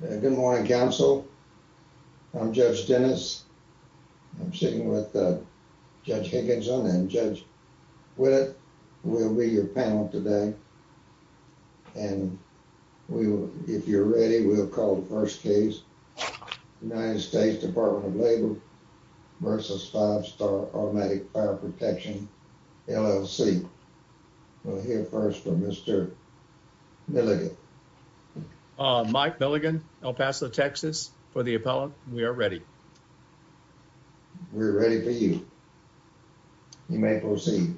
Good morning, counsel. I'm Judge Dennis. I'm sitting with Judge Higginson and Judge Willett. We'll be your panel today, and if you're ready, we'll call the first case. United States Department of Labor v. Five Star Automatic Fire Protection, LLC. We'll hear first from Mr. Milligan. Mike Milligan, El Paso, Texas, for the appellant. We are ready. We're ready for you. You may proceed.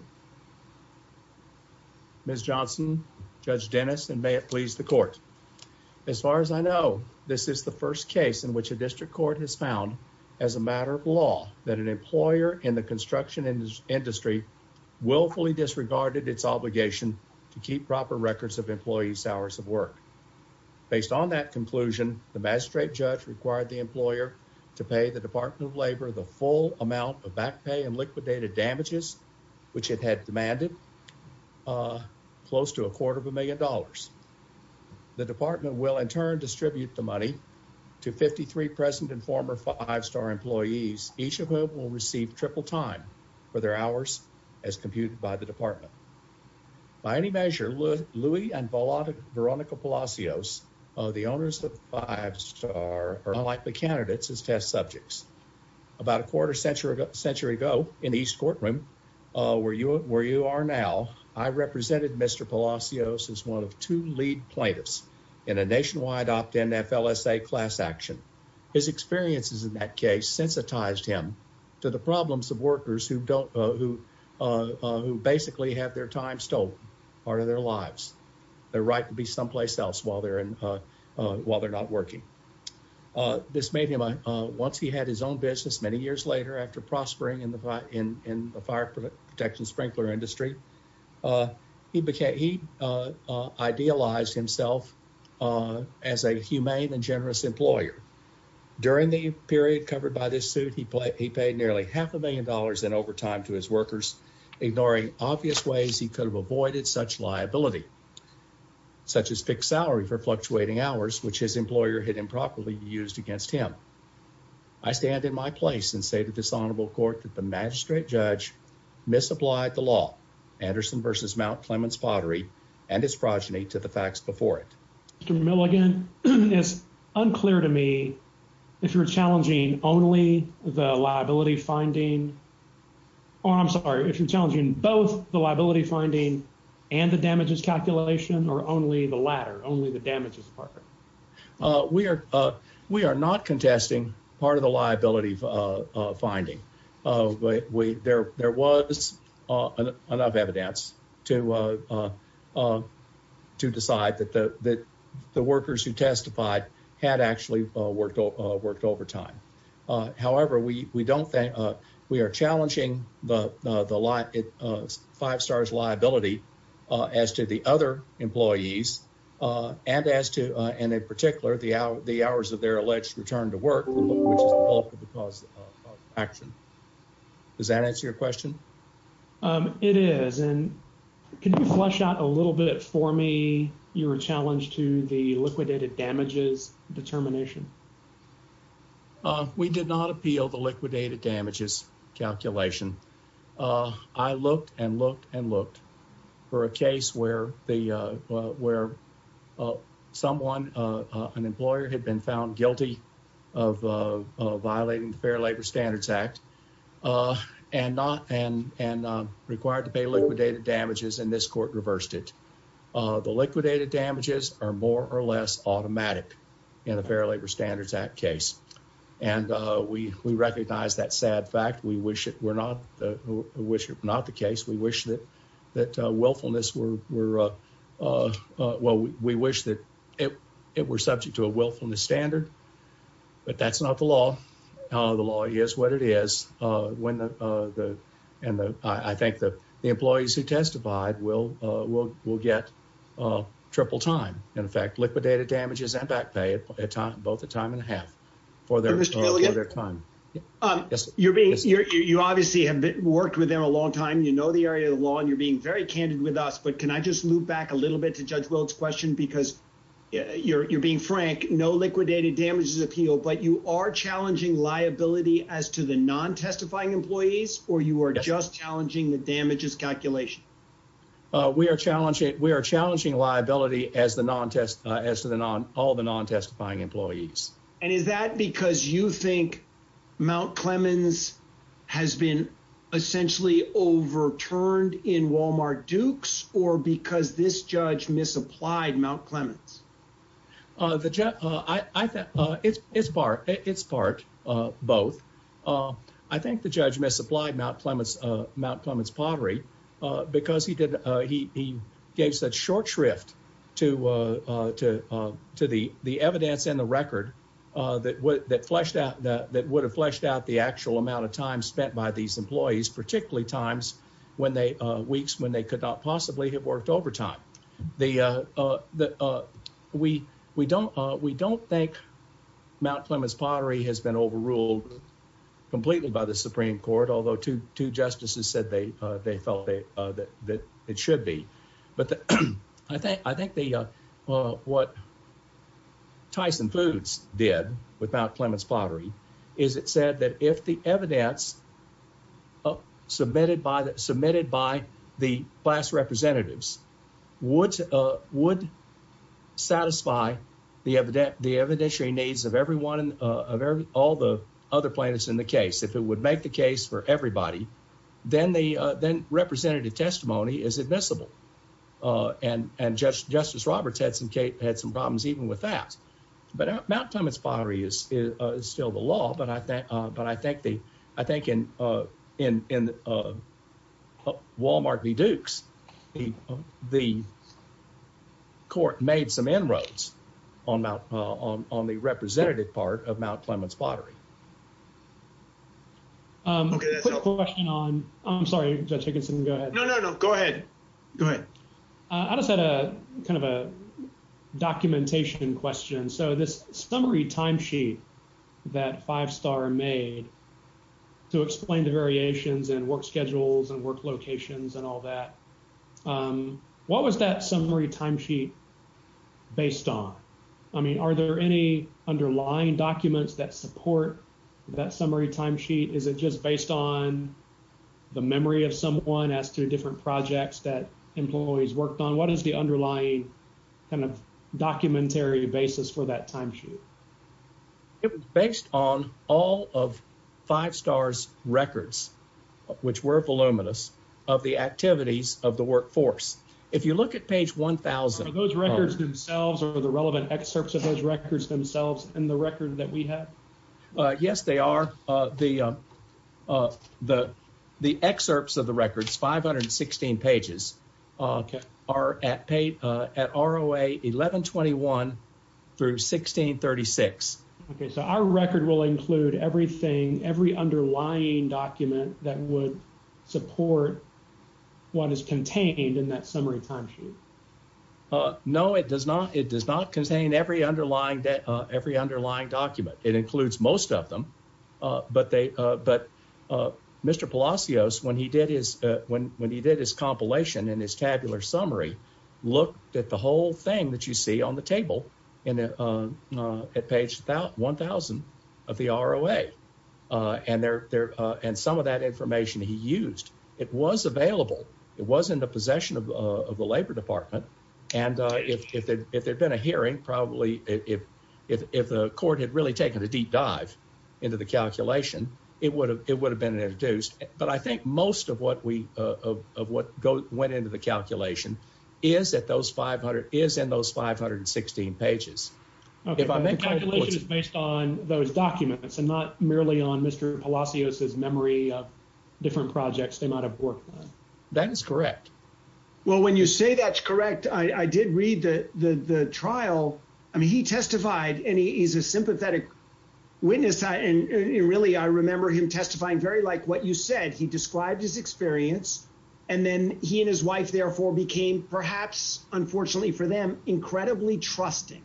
Ms. Johnson, Judge Dennis, and may it please the court. As far as I know, this is the first case in which a district court has found as a matter of law that an employer in the construction industry willfully disregarded its obligation to keep proper records of employees' hours of work. Based on that conclusion, the magistrate judge required the employer to pay the Department of Labor the full amount of back pay and liquidated damages, which it had demanded, close to a quarter of a million dollars. The department will in turn distribute the money to 53 present and former Five Star employees, each of whom will receive triple time for their hours, as computed by the department. By any measure, Louis and Veronica Palacios, the owners of Five Star, are unlikely candidates as test subjects. About a quarter century ago, in the East Courtroom, where you are now, I represented Mr. Palacios as one of two lead plaintiffs in a nationwide opt-in FLSA class action. His experiences in that case sensitized him to the problems of workers who basically have their time stolen, part of their lives. Their right to be someplace else while they're not working. Once he had his own business, many years later, after prospering in the fire protection sprinkler industry, he idealized himself as a humane and generous employer. During the period covered by this suit, he paid nearly half a million dollars in overtime to his workers, ignoring obvious ways he could have avoided such liability, such as fixed salary for fluctuating hours, which his employer had improperly used against him. I stand in my place and say to this honorable court that the magistrate judge misapplied the law, Anderson v. Mount Clements Pottery, and its progeny to the facts before it. Mr. Milligan, it's unclear to me if you're challenging only the liability finding, or I'm sorry, if you're challenging both the liability finding and the damages calculation, or only the latter, only the damages part? We are not contesting part of the liability finding. There was enough evidence to decide that the workers who testified had actually worked overtime. However, we are challenging the five stars liability as to the other employees, and in particular, the hours of their alleged return to work, which is the bulk of the cause of action. Does that answer your question? It is, and can you flesh out a little bit for me your challenge to the liquidated damages determination? We did not appeal the liquidated damages calculation. I looked and looked and looked for a case where someone, an employer, had been found guilty of violating the Fair Labor Standards Act and required to pay liquidated damages, and this court reversed it. The liquidated damages are more or less automatic in the Fair Labor Standards Act case, and we recognize that sad fact. We wish it were not the case. We wish that willfulness were subject to a willfulness standard, but that's not the law. The law is what it is, and I think the employees who testified will get triple time. In fact, liquidated damages and back pay both a time and a half for their time. You obviously have worked with them a long time. You know the area of the law, and you're being very candid with us, but can I just move back a little bit to Judge Weld's question? Because you're being frank, no liquidated damages appeal, but you are challenging liability as to the non-testifying employees, or you are just challenging the damages calculation? We are challenging liability as to all the non-testifying employees. And is that because you think Mount Clemens has been essentially overturned in Walmart Dukes, or because this judge misapplied Mount Clemens? It's part both. I think the judge misapplied Mount Clemens Pottery because he gave such short shrift to the evidence and the record that would have fleshed out the actual amount of time spent by these employees, particularly weeks when they could not possibly have worked overtime. We don't think Mount Clemens Pottery has been overruled completely by the Supreme Court, although two justices said they felt that it should be. I think what Tyson Foods did with Mount Clemens Pottery is it said that if the evidence submitted by the class representatives would satisfy the evidentiary needs of all the other plaintiffs in the case, if it would make the case for everybody, then representative testimony is admissible. And Justice Roberts had some problems even with that. But Mount Clemens Pottery is still the law, but I think in Walmart v. Dukes, the court made some inroads on the representative part of Mount Clemens Pottery. Quick question on, I'm sorry, Judge Higginson, go ahead. No, no, no, go ahead. Go ahead. I just had a kind of a documentation question. So this summary timesheet that Five Star made to explain the variations and work schedules and work locations and all that, what was that summary timesheet based on? I mean, are there any underlying documents that support that summary timesheet? Is it just based on the memory of someone as to different projects that employees worked on? What is the underlying kind of documentary basis for that timesheet? It was based on all of Five Star's records, which were voluminous, of the activities of the workforce. If you look at page 1000. Are those records themselves or the relevant excerpts of those records themselves in the record that we have? Yes, they are. The excerpts of the records, 516 pages, are at ROA 1121 through 1636. OK, so our record will include everything, every underlying document that would support what is contained in that summary timesheet. No, it does not. It does not contain every underlying, every underlying document. It includes most of them, but they, but Mr. Palacios, when he did his, when he did his compilation and his tabular summary, looked at the whole thing that you see on the table at page 1000 of the ROA and some of that information he used. It was available. It was in the possession of the Labor Department. And if there had been a hearing, probably if the court had really taken a deep dive into the calculation, it would have been introduced. But I think most of what we, of what went into the calculation is that those 500, is in those 516 pages. The calculation is based on those documents and not merely on Mr. Palacios' memory of different projects they might have worked on. That is correct. Well, when you say that's correct, I did read the trial. I mean, he testified and he's a sympathetic witness. And really, I remember him testifying very like what you said. He described his experience and then he and his wife therefore became perhaps, unfortunately for them, incredibly trusting.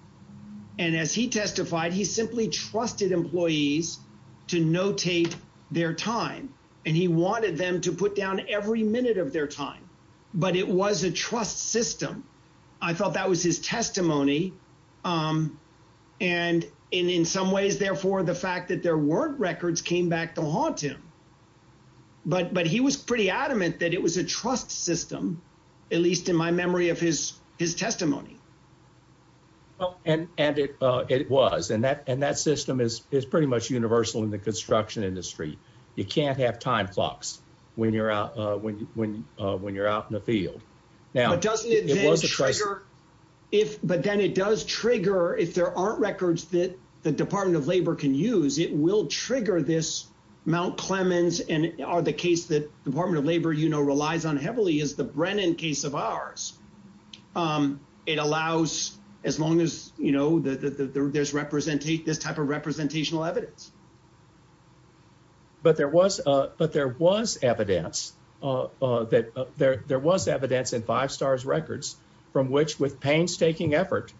And as he testified, he simply trusted employees to notate their time. And he wanted them to put down every minute of their time, but it was a trust system. I thought that was his testimony. And in some ways, therefore, the fact that there weren't records came back to haunt him. But he was pretty adamant that it was a trust system, at least in my memory of his testimony. And it was. And that system is pretty much universal in the construction industry. You can't have time clocks when you're out in the field. Now, doesn't it trigger if but then it does trigger if there aren't records that the Department of Labor can use, it will trigger this Mount Clemens and are the case that Department of Labor, you know, relies on heavily is the Brennan case of ours. It allows as long as you know that there's represent this type of representational evidence. But there was but there was evidence that there was evidence in five stars records from which with painstaking effort,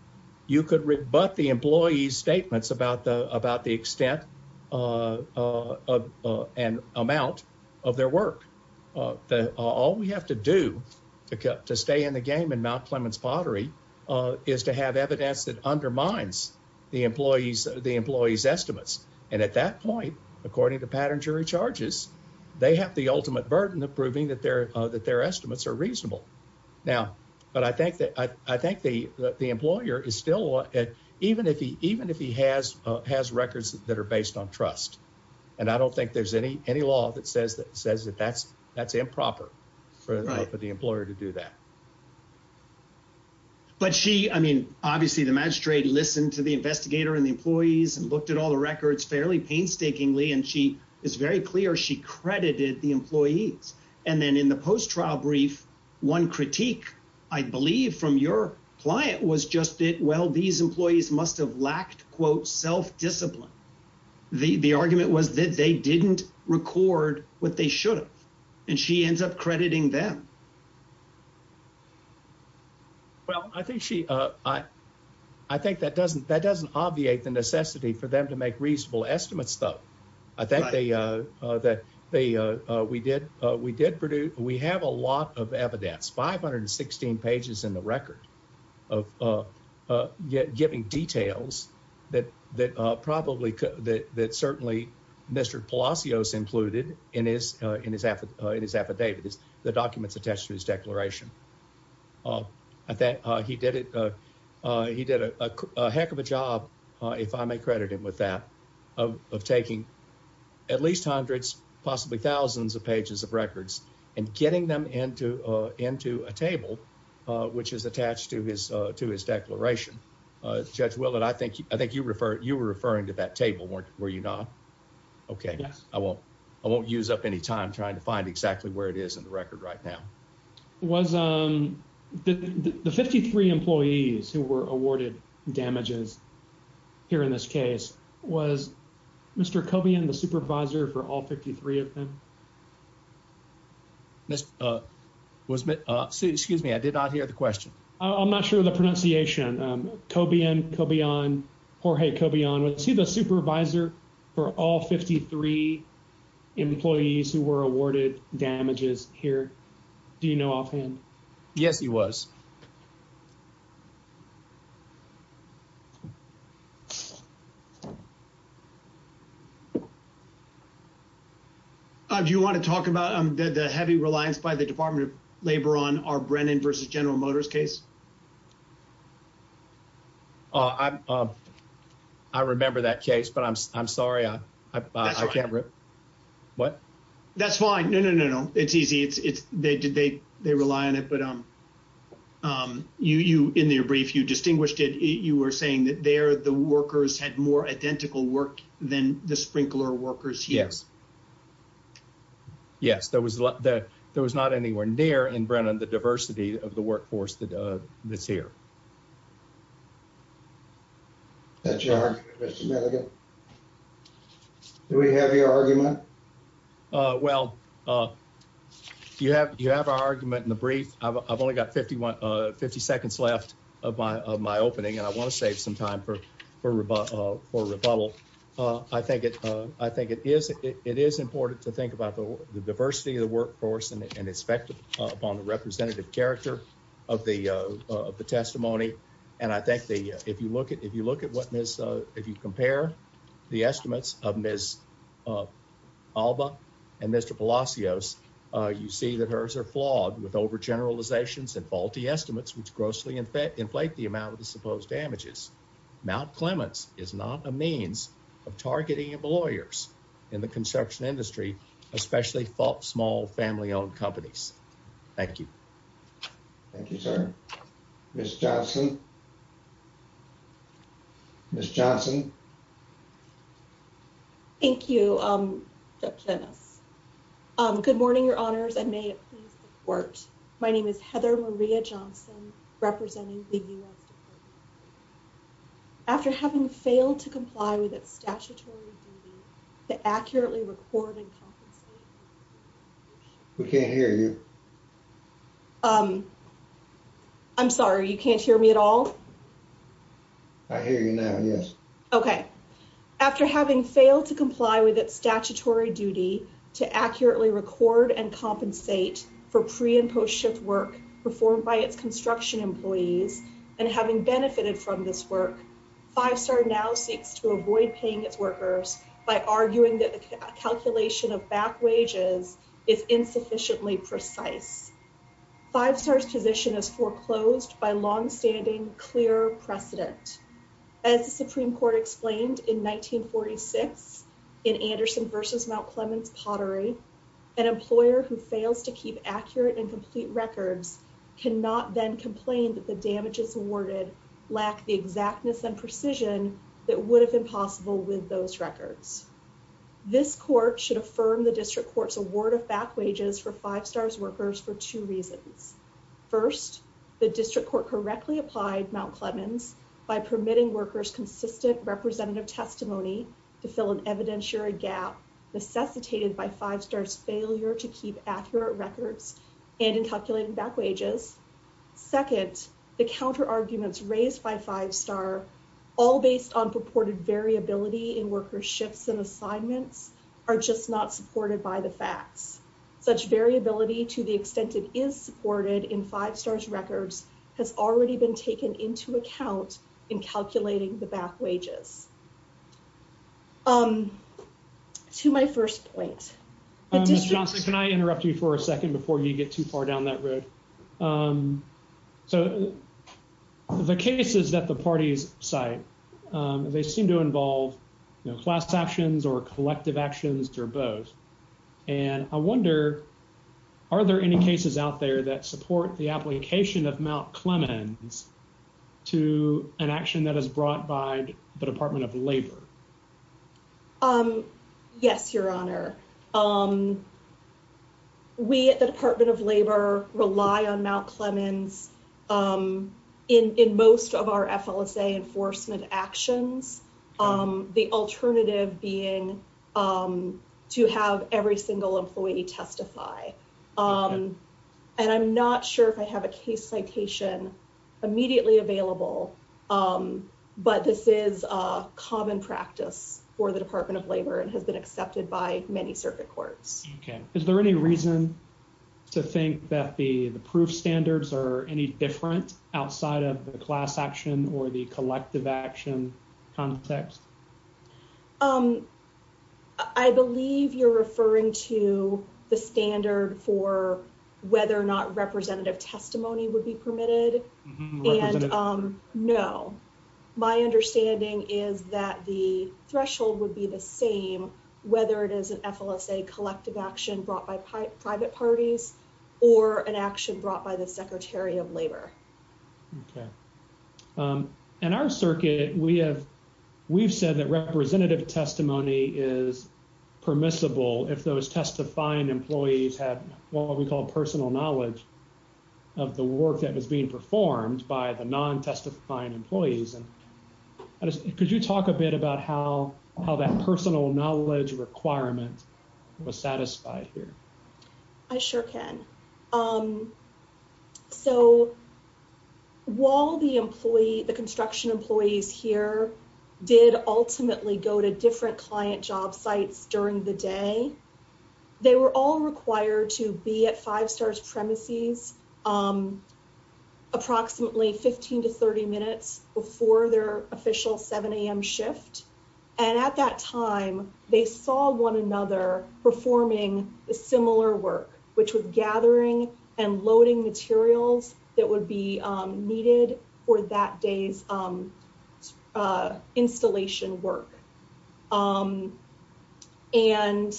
you could rebut the employees statements about the about the extent of an amount of their work. All we have to do to stay in the game in Mount Clemens pottery is to have evidence that undermines the employees, the employees estimates. And at that point, according to pattern jury charges, they have the ultimate burden of proving that their that their estimates are reasonable now. But I think that I think the the employer is still at even if he even if he has has records that are based on trust. And I don't think there's any any law that says that says that that's that's improper for the employer to do that. But she I mean, obviously, the magistrate listened to the investigator and the employees and looked at all the records fairly painstakingly, and she is very clear she credited the employees. And then in the post-trial brief, one critique, I believe, from your client was just it. Well, these employees must have lacked, quote, self-discipline. The argument was that they didn't record what they should have, and she ends up crediting them. Well, I think she I I think that doesn't that doesn't obviate the necessity for them to make reasonable estimates, though. I think they that they we did. We did. We have a lot of evidence, 516 pages in the record of giving details that that probably that that certainly Mr. Palacios included in his in his in his affidavit is the documents attached to his declaration that he did it. He did a heck of a job, if I may credit him with that, of of taking at least hundreds, possibly thousands of pages of records and getting them into into a table which is attached to his to his declaration. Judge Willard, I think I think you refer you were referring to that table, weren't you? Were you not? OK, I won't I won't use up any time trying to find exactly where it is in the record right now. Was the 53 employees who were awarded damages here in this case? Was Mr. Cobian the supervisor for all 53 of them? This was excuse me, I did not hear the question. I'm not sure the pronunciation. Cobian, Cobian, Jorge Cobian, was he the supervisor for all 53 employees who were awarded damages here? Do you know offhand? Yes, he was. Do you want to talk about the heavy reliance by the Department of Labor on our Brennan versus General Motors case? I remember that case, but I'm I'm sorry, I can't. What? That's fine. No, no, no, no. It's easy. It's they did they they rely on it. But you in their brief, you distinguished it. You were saying that they are the workers had more identical work than the sprinkler workers. Yes. Yes, there was that there was not anywhere near in Brennan the diversity of the workforce that that's here. That's your argument. Do we have your argument? Well, you have you have our argument in the brief. I've only got 51, 50 seconds left of my of my opening, and I want to save some time for for for rebuttal. I think it I think it is it is important to think about the diversity of the workforce and its effect upon the representative character of the of the testimony. And I think the if you look at if you look at what is if you compare the estimates of Ms. Alba and Mr. Palacios, you see that hers are flawed with over generalizations and faulty estimates, which grossly in fact, inflate the amount of the supposed damages. Mount Clements is not a means of targeting of lawyers in the construction industry, especially small family owned companies. Thank you. Thank you, sir. Miss Johnson. Miss Johnson. Thank you, Dennis. Good morning, your honors. And may it please the court. My name is Heather Maria Johnson representing the US. After having failed to comply with its statutory to accurately recording. We can't hear you. I'm sorry, you can't hear me at all. I hear you now. Yes. Okay. After having failed to comply with its statutory duty to accurately record and compensate for pre and post shift work performed by its construction employees and having benefited from this work. Five star now seeks to avoid paying its workers by arguing that the calculation of back wages is insufficiently precise. Five stars position is foreclosed by long standing clear precedent. As the Supreme Court explained in nineteen forty six in Anderson versus Mount Clements pottery. An employer who fails to keep accurate and complete records cannot then complain that the damages awarded lack the exactness and precision that would have been possible with those records. This court should affirm the district court's award of back wages for five stars workers for two reasons. First, the district court correctly applied Mount Clements by permitting workers consistent representative testimony to fill an evidentiary gap necessitated by five stars failure to keep accurate records and in calculating back wages. Second, the counter arguments raised by five star all based on purported variability in workers shifts and assignments are just not supported by the facts. Such variability to the extent it is supported in five stars records has already been taken into account in calculating the back wages. To my first point, can I interrupt you for a second before you get too far down that road? So the cases that the parties site, they seem to involve class actions or collective actions or both. And I wonder, are there any cases out there that support the application of Mount Clements to an action that is brought by the Department of Labor? Yes, your honor. We at the Department of Labor rely on Mount Clements in most of our enforcement actions. The alternative being to have every single employee testify. And I'm not sure if I have a case citation immediately available, but this is a common practice for the Department of Labor and has been accepted by many circuit courts. Okay. Is there any reason to think that the proof standards are any different outside of the class action or the collective action context? I believe you're referring to the standard for whether or not representative testimony would be permitted. And no, my understanding is that the threshold would be the same, whether it is an FLSA collective action brought by private parties or an action brought by the Secretary of Labor. Okay. In our circuit, we've said that representative testimony is permissible if those testifying employees have what we call personal knowledge of the work that is being performed by the non-testifying employees. Could you talk a bit about how that personal knowledge requirement was satisfied here? I sure can. So, while the construction employees here did ultimately go to different client job sites during the day, they were all required to be at Five Stars premises approximately 15 to 30 minutes before their official 7 a.m. shift. And at that time, they saw one another performing a similar work, which was gathering and loading materials that would be needed for that day's installation work. And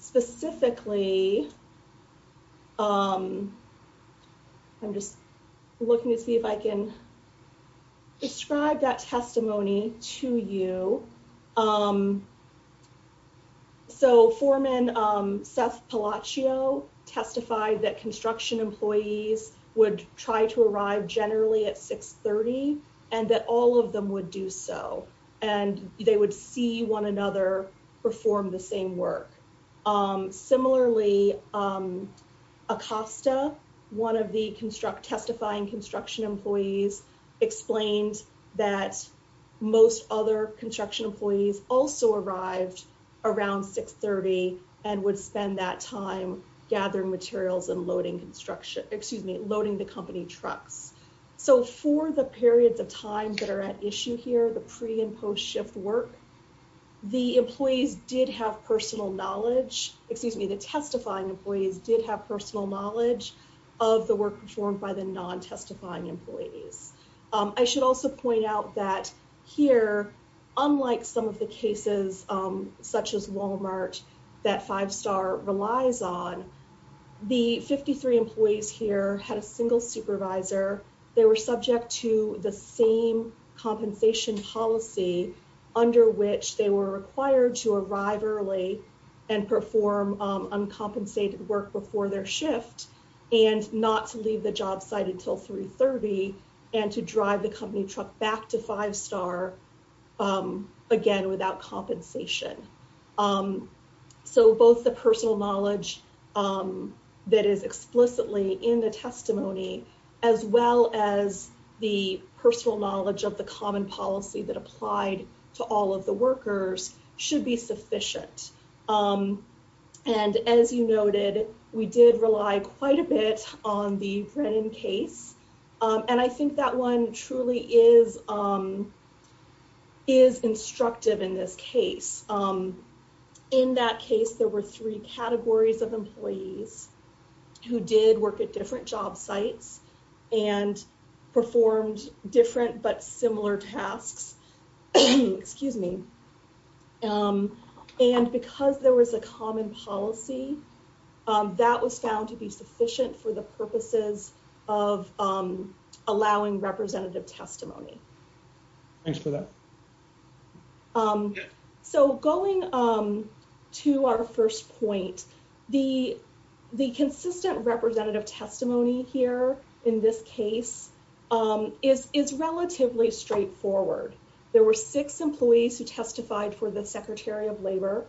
specifically, I'm just looking to see if I can describe that testimony to you. So, foreman Seth Palacio testified that construction employees would try to arrive generally at 630 and that all of them would do so, and they would see one another perform the same work. Similarly, Acosta, one of the testifying construction employees, explained that most other construction employees also arrived around 630 and would spend that time gathering materials and loading construction, excuse me, loading the company trucks. So, for the periods of time that are at issue here, the pre and post shift work, the employees did have personal knowledge, excuse me, the testifying employees did have personal knowledge of the work performed by the non-testifying employees. I should also point out that here, unlike some of the cases, such as Walmart, that Five Star relies on, the 53 employees here had a single supervisor. They were subject to the same compensation policy under which they were required to arrive early and perform uncompensated work before their shift and not to leave the job site until 330 and to drive the company truck back to Five Star again without compensation. So, both the personal knowledge that is explicitly in the testimony, as well as the personal knowledge of the common policy that applied to all of the workers should be sufficient. And as you noted, we did rely quite a bit on the Brennan case, and I think that one truly is instructive in this case. In that case, there were three categories of employees who did work at different job sites and performed different but similar tasks, excuse me. And because there was a common policy, that was found to be sufficient for the purposes of allowing representative testimony. Thanks for that. So, going to our first point, the consistent representative testimony here in this case is relatively straightforward. There were six employees who testified for the Secretary of Labor.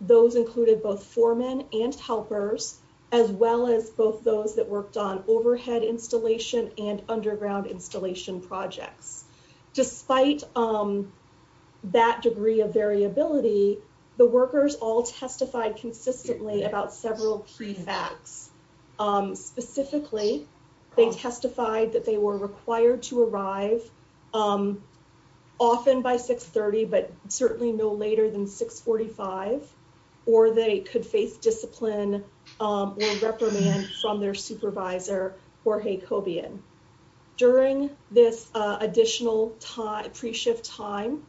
Those included both foremen and helpers, as well as both those that worked on overhead installation and underground installation projects. Despite that degree of variability, the workers all testified consistently about several key facts. Specifically, they testified that they were required to arrive often by 630, but certainly no later than 645, or they could face discipline or reprimand from their supervisor, Jorge Cobian. During this additional pre-shift time,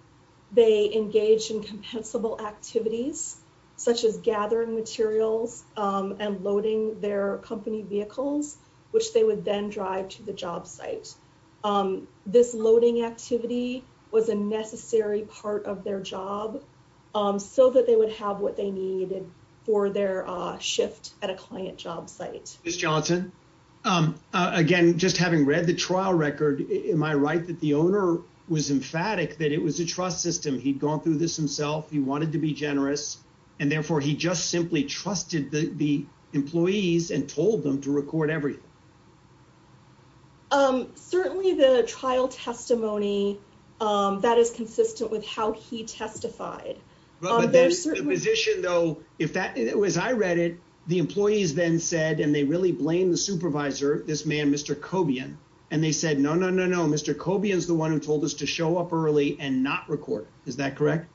they engaged in compensable activities, such as gathering materials and loading their company vehicles, which they would then drive to the job site. This loading activity was a necessary part of their job so that they would have what they needed for their shift at a client job site. Ms. Johnson, again, just having read the trial record, am I right that the owner was emphatic that it was a trust system? He'd gone through this himself, he wanted to be generous, and therefore he just simply trusted the employees and told them to record everything? Certainly, the trial testimony, that is consistent with how he testified. As I read it, the employees then said, and they really blamed the supervisor, this man, Mr. Cobian, and they said, no, no, no, no, Mr. Cobian is the one who told us to show up early and not record. Is that correct?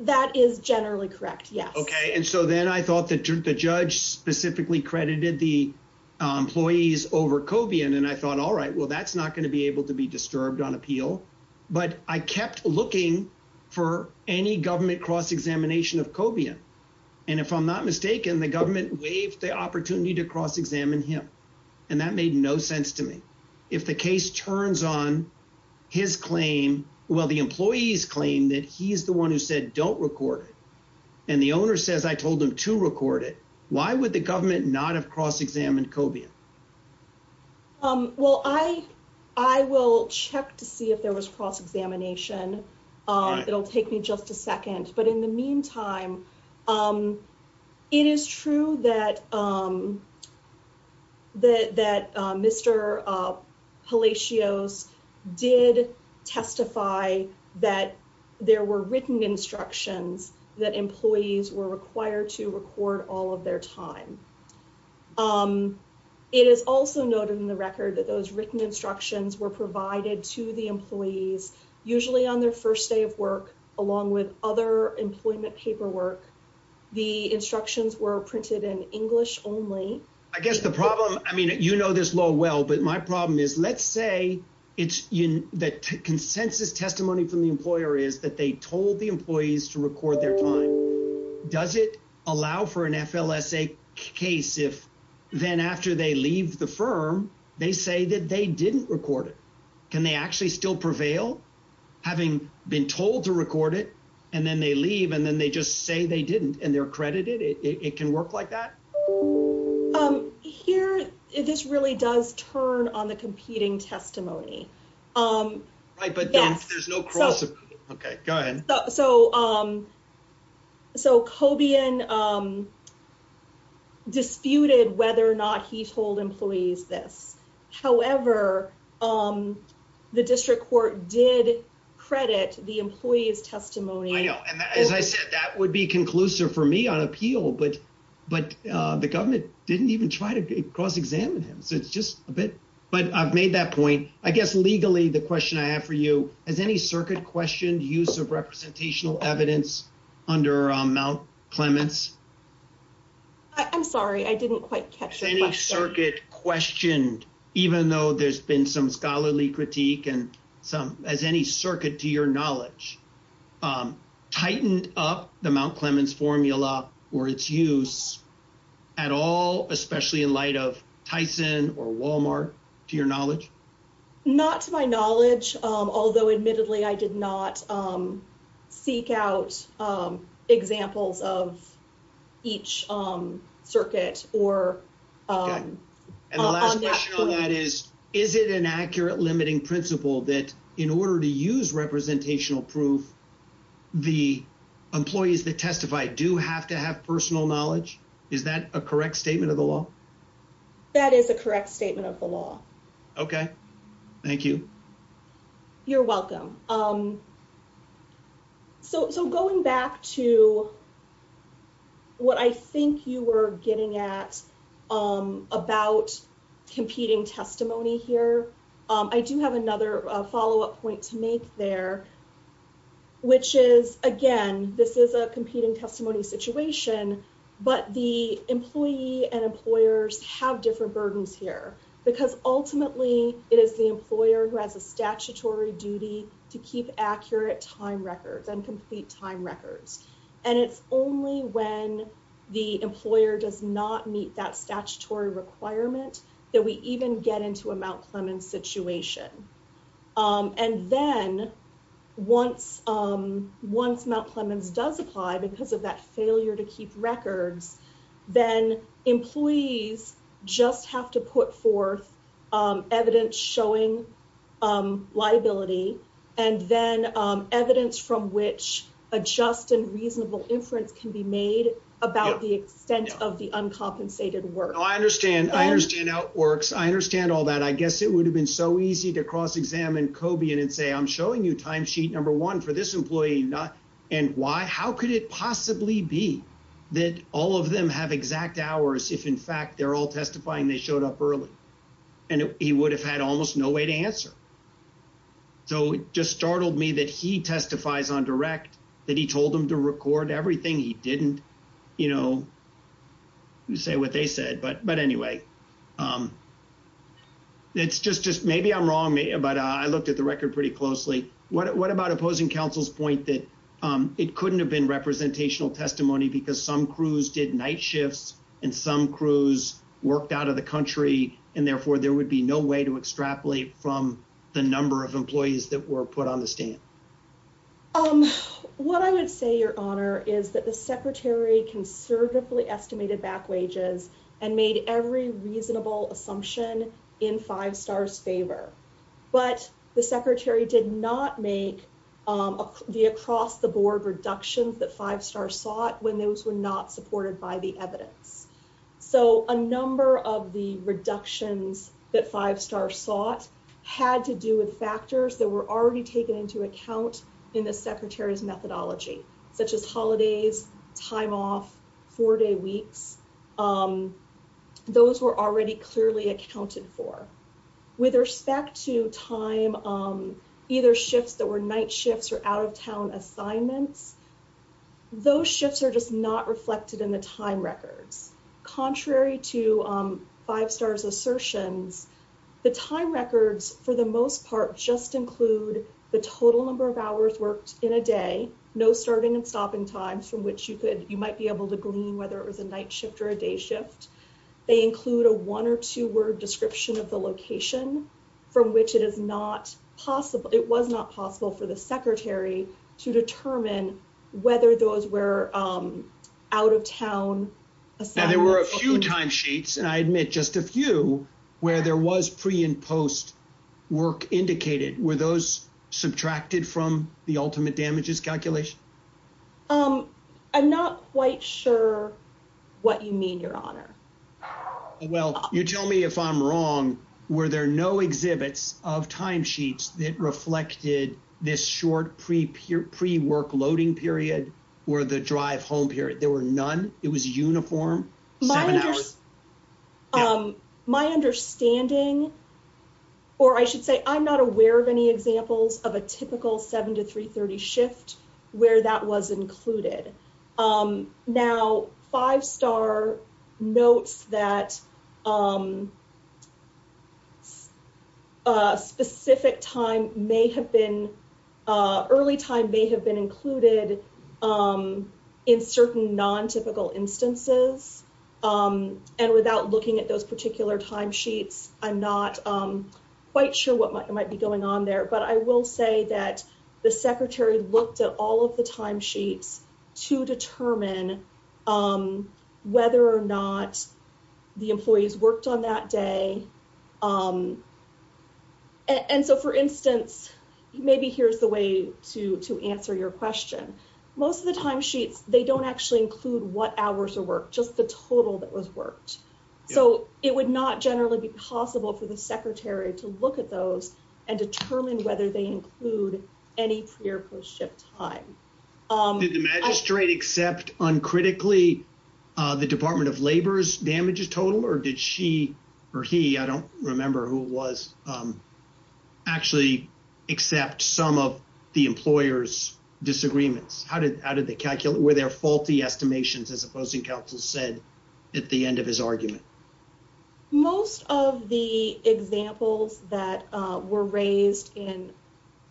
That is generally correct, yes. Okay, and so then I thought that the judge specifically credited the employees over Cobian, and I thought, all right, well, that's not going to be able to be disturbed on appeal. But I kept looking for any government cross-examination of Cobian, and if I'm not mistaken, the government waived the opportunity to cross-examine him, and that made no sense to me. If the case turns on his claim, well, the employees claim that he's the one who said don't record it, and the owner says I told him to record it, why would the government not have cross-examined Cobian? Well, I will check to see if there was cross-examination. It'll take me just a second, but in the meantime, it is true that Mr. Palacios did testify that there were written instructions that employees were required to record all of their time. It is also noted in the record that those written instructions were provided to the employees, usually on their first day of work, along with other employment paperwork. The instructions were printed in English only. I guess the problem, I mean, you know this law well, but my problem is let's say the consensus testimony from the employer is that they told the employees to record their time. Does it allow for an FLSA case if then after they leave the firm, they say that they didn't record it? Can they actually still prevail, having been told to record it, and then they leave, and then they just say they didn't, and they're credited? It can work like that? Here, this really does turn on the competing testimony. Right, but there's no cross-examination. Okay, go ahead. So, Cobian disputed whether or not he told employees this. However, the district court did credit the employee's testimony. I know, and as I said, that would be conclusive for me on appeal, but the government didn't even try to cross-examine him, so it's just a bit, but I've made that point. I guess legally, the question I have for you, has any circuit questioned use of representational evidence under Mount Clements? I'm sorry, I didn't quite catch your question. Has any circuit questioned, even though there's been some scholarly critique, has any circuit, to your knowledge, tightened up the Mount Clements formula or its use at all, especially in light of Tyson or Walmart, to your knowledge? Not to my knowledge, although admittedly, I did not seek out examples of each circuit. Okay, and the last question on that is, is it an accurate limiting principle that in order to use representational proof, the employees that testify do have to have personal knowledge? Is that a correct statement of the law? That is a correct statement of the law. Okay, thank you. You're welcome. So going back to what I think you were getting at about competing testimony here, I do have another follow-up point to make there, which is, again, this is a competing testimony situation, but the employee and employers have different burdens here, because ultimately it is the employer who has a statutory duty to keep accurate time records and complete time records, and it's only when the employer does not meet that statutory requirement that we even get into a Mount Clements situation. And then once Mount Clements does apply because of that failure to keep records, then employees just have to put forth evidence showing liability and then evidence from which a just and reasonable inference can be made about the extent of the uncompensated work. No, I understand. I understand how it works. I understand all that. I guess it would have been so easy to cross-examine Cobian and say, I'm showing you timesheet number one for this employee, and why, how could it possibly be that all of them have exact hours if in fact they're all testifying they showed up early? And he would have had almost no way to answer. So it just startled me that he testifies on direct, that he told him to record everything he didn't, you know, say what they said. But anyway, it's just maybe I'm wrong, but I looked at the record pretty closely. What about opposing counsel's point that it couldn't have been representational testimony because some crews did night shifts, and some crews worked out of the country, and therefore there would be no way to extrapolate from the number of employees that were put on the stand. What I would say, Your Honor, is that the secretary conservatively estimated back wages and made every reasonable assumption in Five Star's favor. But the secretary did not make the across-the-board reductions that Five Star sought when those were not supported by the evidence. So a number of the reductions that Five Star sought had to do with factors that were already taken into account in the secretary's methodology, such as holidays, time off, four-day weeks. Those were already clearly accounted for. With respect to time, either shifts that were night shifts or out-of-town assignments, those shifts are just not reflected in the time records. Contrary to Five Star's assertions, the time records, for the most part, just include the total number of hours worked in a day, no starting and stopping times from which you might be able to glean whether it was a night shift or a day shift. They include a one- or two-word description of the location from which it was not possible for the secretary to determine whether those were out-of-town assignments. Now, there were a few timesheets, and I admit just a few, where there was pre- and post-work indicated. Were those subtracted from the ultimate damages calculation? I'm not quite sure what you mean, Your Honor. Well, you tell me if I'm wrong. Were there no exhibits of timesheets that reflected this short pre-workloading period or the drive-home period? There were none? It was uniform? My understanding, or I should say I'm not aware of any examples of a typical 7 to 3.30 shift where that was included. Now, Five Star notes that a specific early time may have been included in certain non-typical instances, and without looking at those particular timesheets, I'm not quite sure what might be going on there. But I will say that the secretary looked at all of the timesheets to determine whether or not the employees worked on that day. And so, for instance, maybe here's the way to answer your question. Most of the timesheets, they don't actually include what hours were worked, just the total that was worked. So it would not generally be possible for the secretary to look at those and determine whether they include any pre- or post-shift time. Did the magistrate accept uncritically the Department of Labor's damages total, or did she, or he, I don't remember who it was, actually accept some of the employer's disagreements? Were there faulty estimations, as Opposing Counsel said at the end of his argument? Most of the examples that were raised in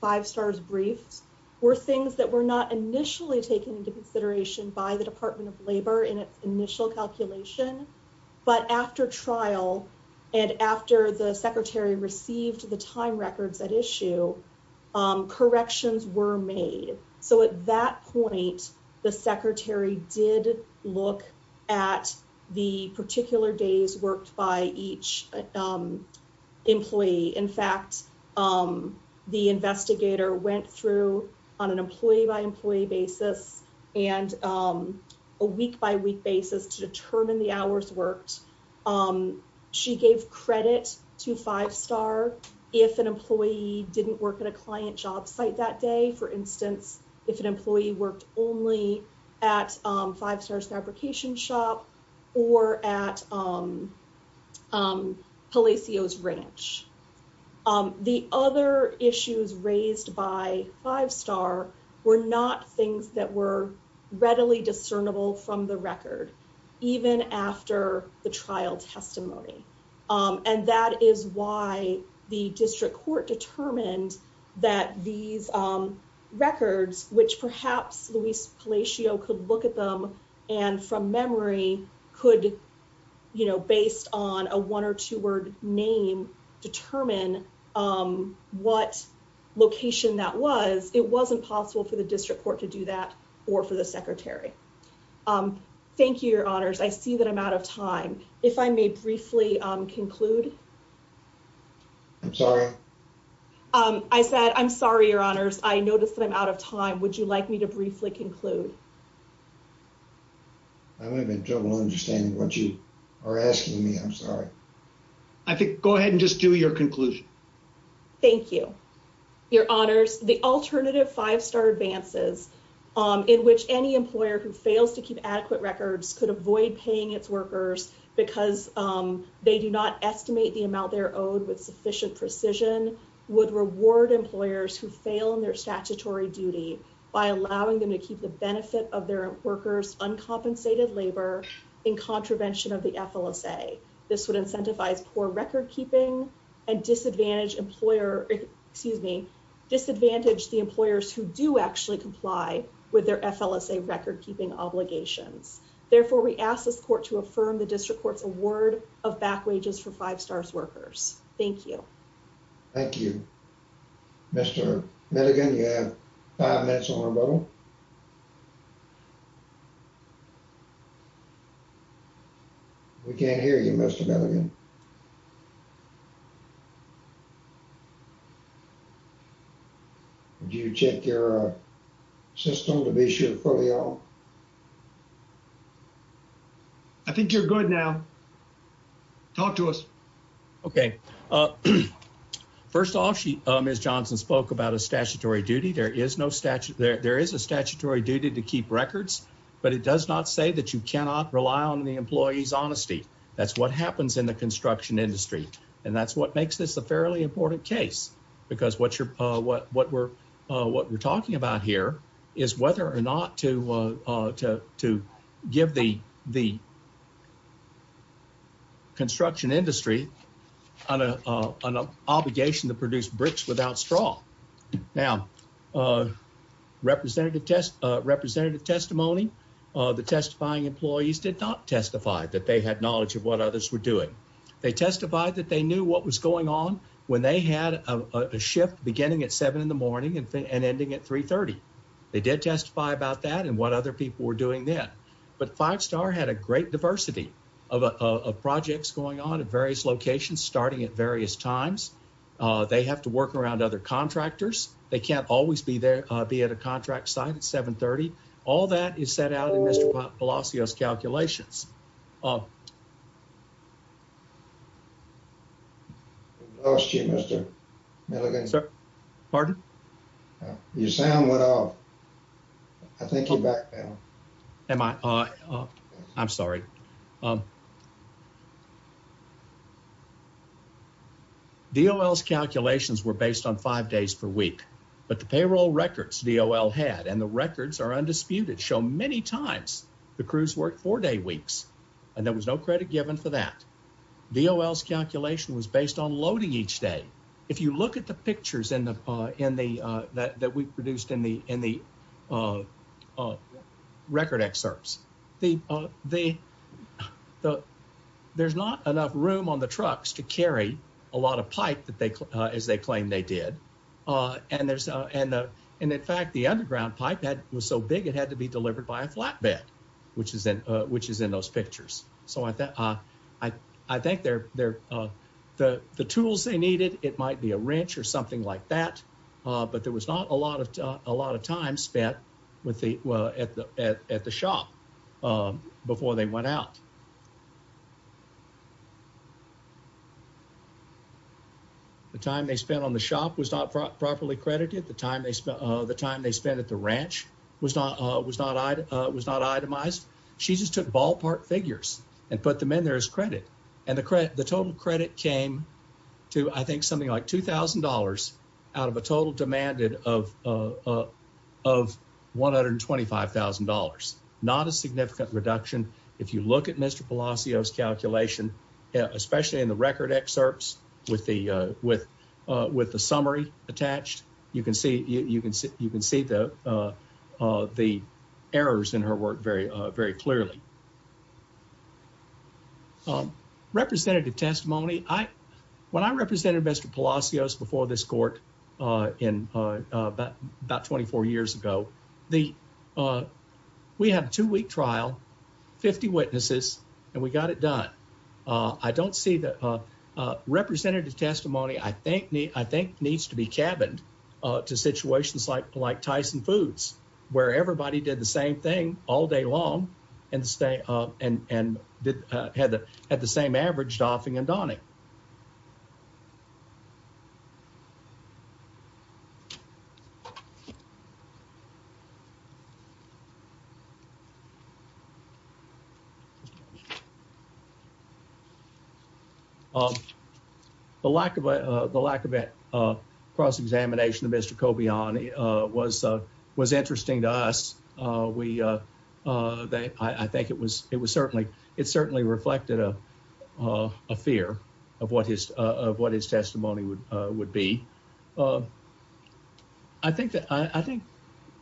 Five Star's briefs were things that were not initially taken into consideration by the Department of Labor in its initial calculation. But after trial and after the secretary received the time records at issue, corrections were made. So at that point, the secretary did look at the particular days worked by each employee. In fact, the investigator went through on an employee-by-employee basis and a week-by-week basis to determine the hours worked. She gave credit to Five Star if an employee didn't work at a client job site that day. For instance, if an employee worked only at Five Star's fabrication shop or at Palacio's Ranch. The other issues raised by Five Star were not things that were readily discernible from the record, even after the trial testimony. And that is why the district court determined that these records, which perhaps Luis Palacio could look at them and from memory could, you know, based on a one or two word name, determine what location that was. It wasn't possible for the district court to do that or for the secretary. Thank you, Your Honors. I see that I'm out of time. If I may briefly conclude. I'm sorry. I said, I'm sorry, Your Honors. I noticed that I'm out of time. Would you like me to briefly conclude? I'm having trouble understanding what you are asking me. I'm sorry. I think go ahead and just do your conclusion. Thank you. Your Honors, the alternative Five Star advances in which any employer who fails to keep adequate records could avoid paying its workers because they do not estimate the amount they're owed with sufficient precision would reward employers who fail in their statutory duty by allowing them to keep the benefit of their workers uncompensated labor in contravention of the FLSA. This would incentivize poor record keeping and disadvantage employer, excuse me, disadvantage the employers who do actually comply with their FLSA record keeping obligations. Therefore, we ask this court to affirm the district court's award of back wages for Five Stars workers. Thank you. Thank you, Mr. Milligan. You have five minutes on rebuttal. We can't hear you, Mr. Milligan. Do you check your system to be sure? I think you're good now. Talk to us. Okay. First off, she is Johnson spoke about a statutory duty. There is no statute. There is a statutory duty to keep records, but it does not say that you cannot rely on the employees. Honesty. That's what happens in the construction industry. And that's what makes this a fairly important case. Because what you're what? What we're what we're talking about here is whether or not to to to give the the construction industry on a obligation to produce bricks without straw. Now, representative test representative testimony. The testifying employees did not testify that they had knowledge of what others were doing. They testified that they knew what was going on when they had a shift beginning at seven in the morning and ending at three thirty. They did testify about that and what other people were doing there. But Five Star had a great diversity of projects going on at various locations, starting at various times. They have to work around other contractors. They can't always be there. Be at a contract site at seven thirty. All that is set out in Mr. Palacios calculations. Oh, she must have. Pardon? Your sound went off. I think you're back now. Am I? I'm sorry. Thank you. The calculations were based on five days per week, but the payroll records had and the records are undisputed show many times the crews work four day weeks and there was no credit given for that. The calculation was based on loading each day. If you look at the pictures in the in the that we produced in the in the record excerpts, the the there's not enough room on the trucks to carry a lot of pipe that they as they claim they did. And there's and and in fact, the underground pipe that was so big, it had to be delivered by a flatbed, which is in which is in those pictures. So I think I I think they're they're the the tools they needed. It might be a wrench or something like that. But there was not a lot of a lot of time spent with the at the at the shop before they went out. The time they spent on the shop was not properly credited the time they spent the time they spent at the ranch was not was not was not itemized. She just took ballpark figures and put them in there as credit and the credit. The total credit came to, I think, something like two thousand dollars out of a total demanded of of one hundred and twenty five thousand dollars, not a significant reduction. If you look at Mr. Palacios calculation, especially in the record excerpts with the with with the summary attached, you can see you can see you can see the the errors in her work very, very clearly. Representative testimony, I when I represented Mr. Palacios before this court in about twenty four years ago, the we had a two week trial, 50 witnesses and we got it done. I don't see that representative testimony, I think, I think needs to be cabined to situations like like Tyson Foods, where everybody did the same thing all day long and stay up and had the same average doffing and donning. The lack of the lack of a cross examination of Mr. Kobe on was was interesting to us. We they I think it was it was certainly it certainly reflected a fear of what his of what his testimony would would be. I think that I think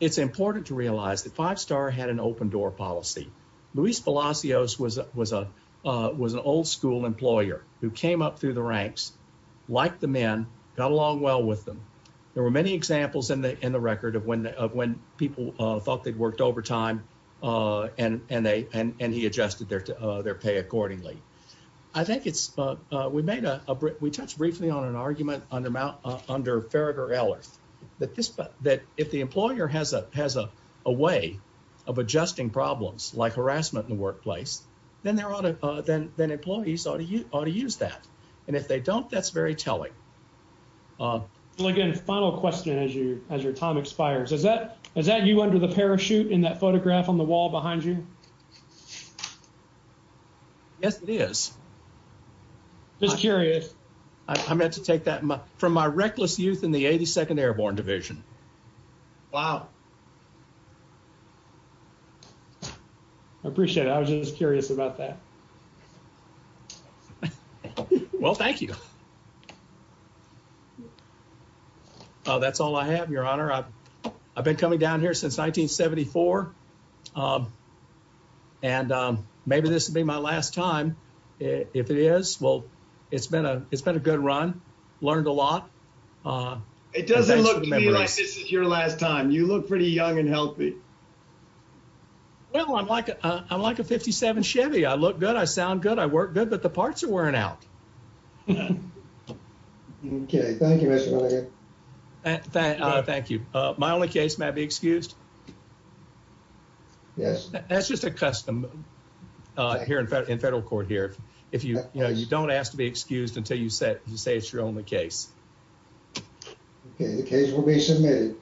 it's important to realize that five star had an open door policy. Luis Palacios was was a was an old school employer who came up through the ranks like the men got along well with them. There were many examples in the in the record of when of when people thought they'd worked overtime and they and he adjusted their their pay accordingly. I think it's we made a we touched briefly on an argument on the Mount under Farragher Ellers that this that if the employer has a has a way of adjusting problems like harassment in the workplace, then there ought to then then employees ought to ought to use that. And if they don't, that's very telling. Well, again, final question as you as your time expires, is that is that you under the parachute in that photograph on the wall behind you? Yes, it is. Just curious. I meant to take that from my reckless youth in the 82nd Airborne Division. Wow. I appreciate it. I was just curious about that. Well, thank you. Oh, that's all I have, Your Honor. I've I've been coming down here since 1974. And maybe this would be my last time if it is. Well, it's been a it's been a good run. Learned a lot. It doesn't look like this is your last time. You look pretty young and healthy. Well, I'm like, I'm like a 57 Chevy. I look good. I sound good. I work good. But the parts are wearing out. OK, thank you. And thank you. My only case may be excused. Yes, that's just a custom here in federal court here. If you don't ask to be excused until you say you say it's your only case. The case will be submitted.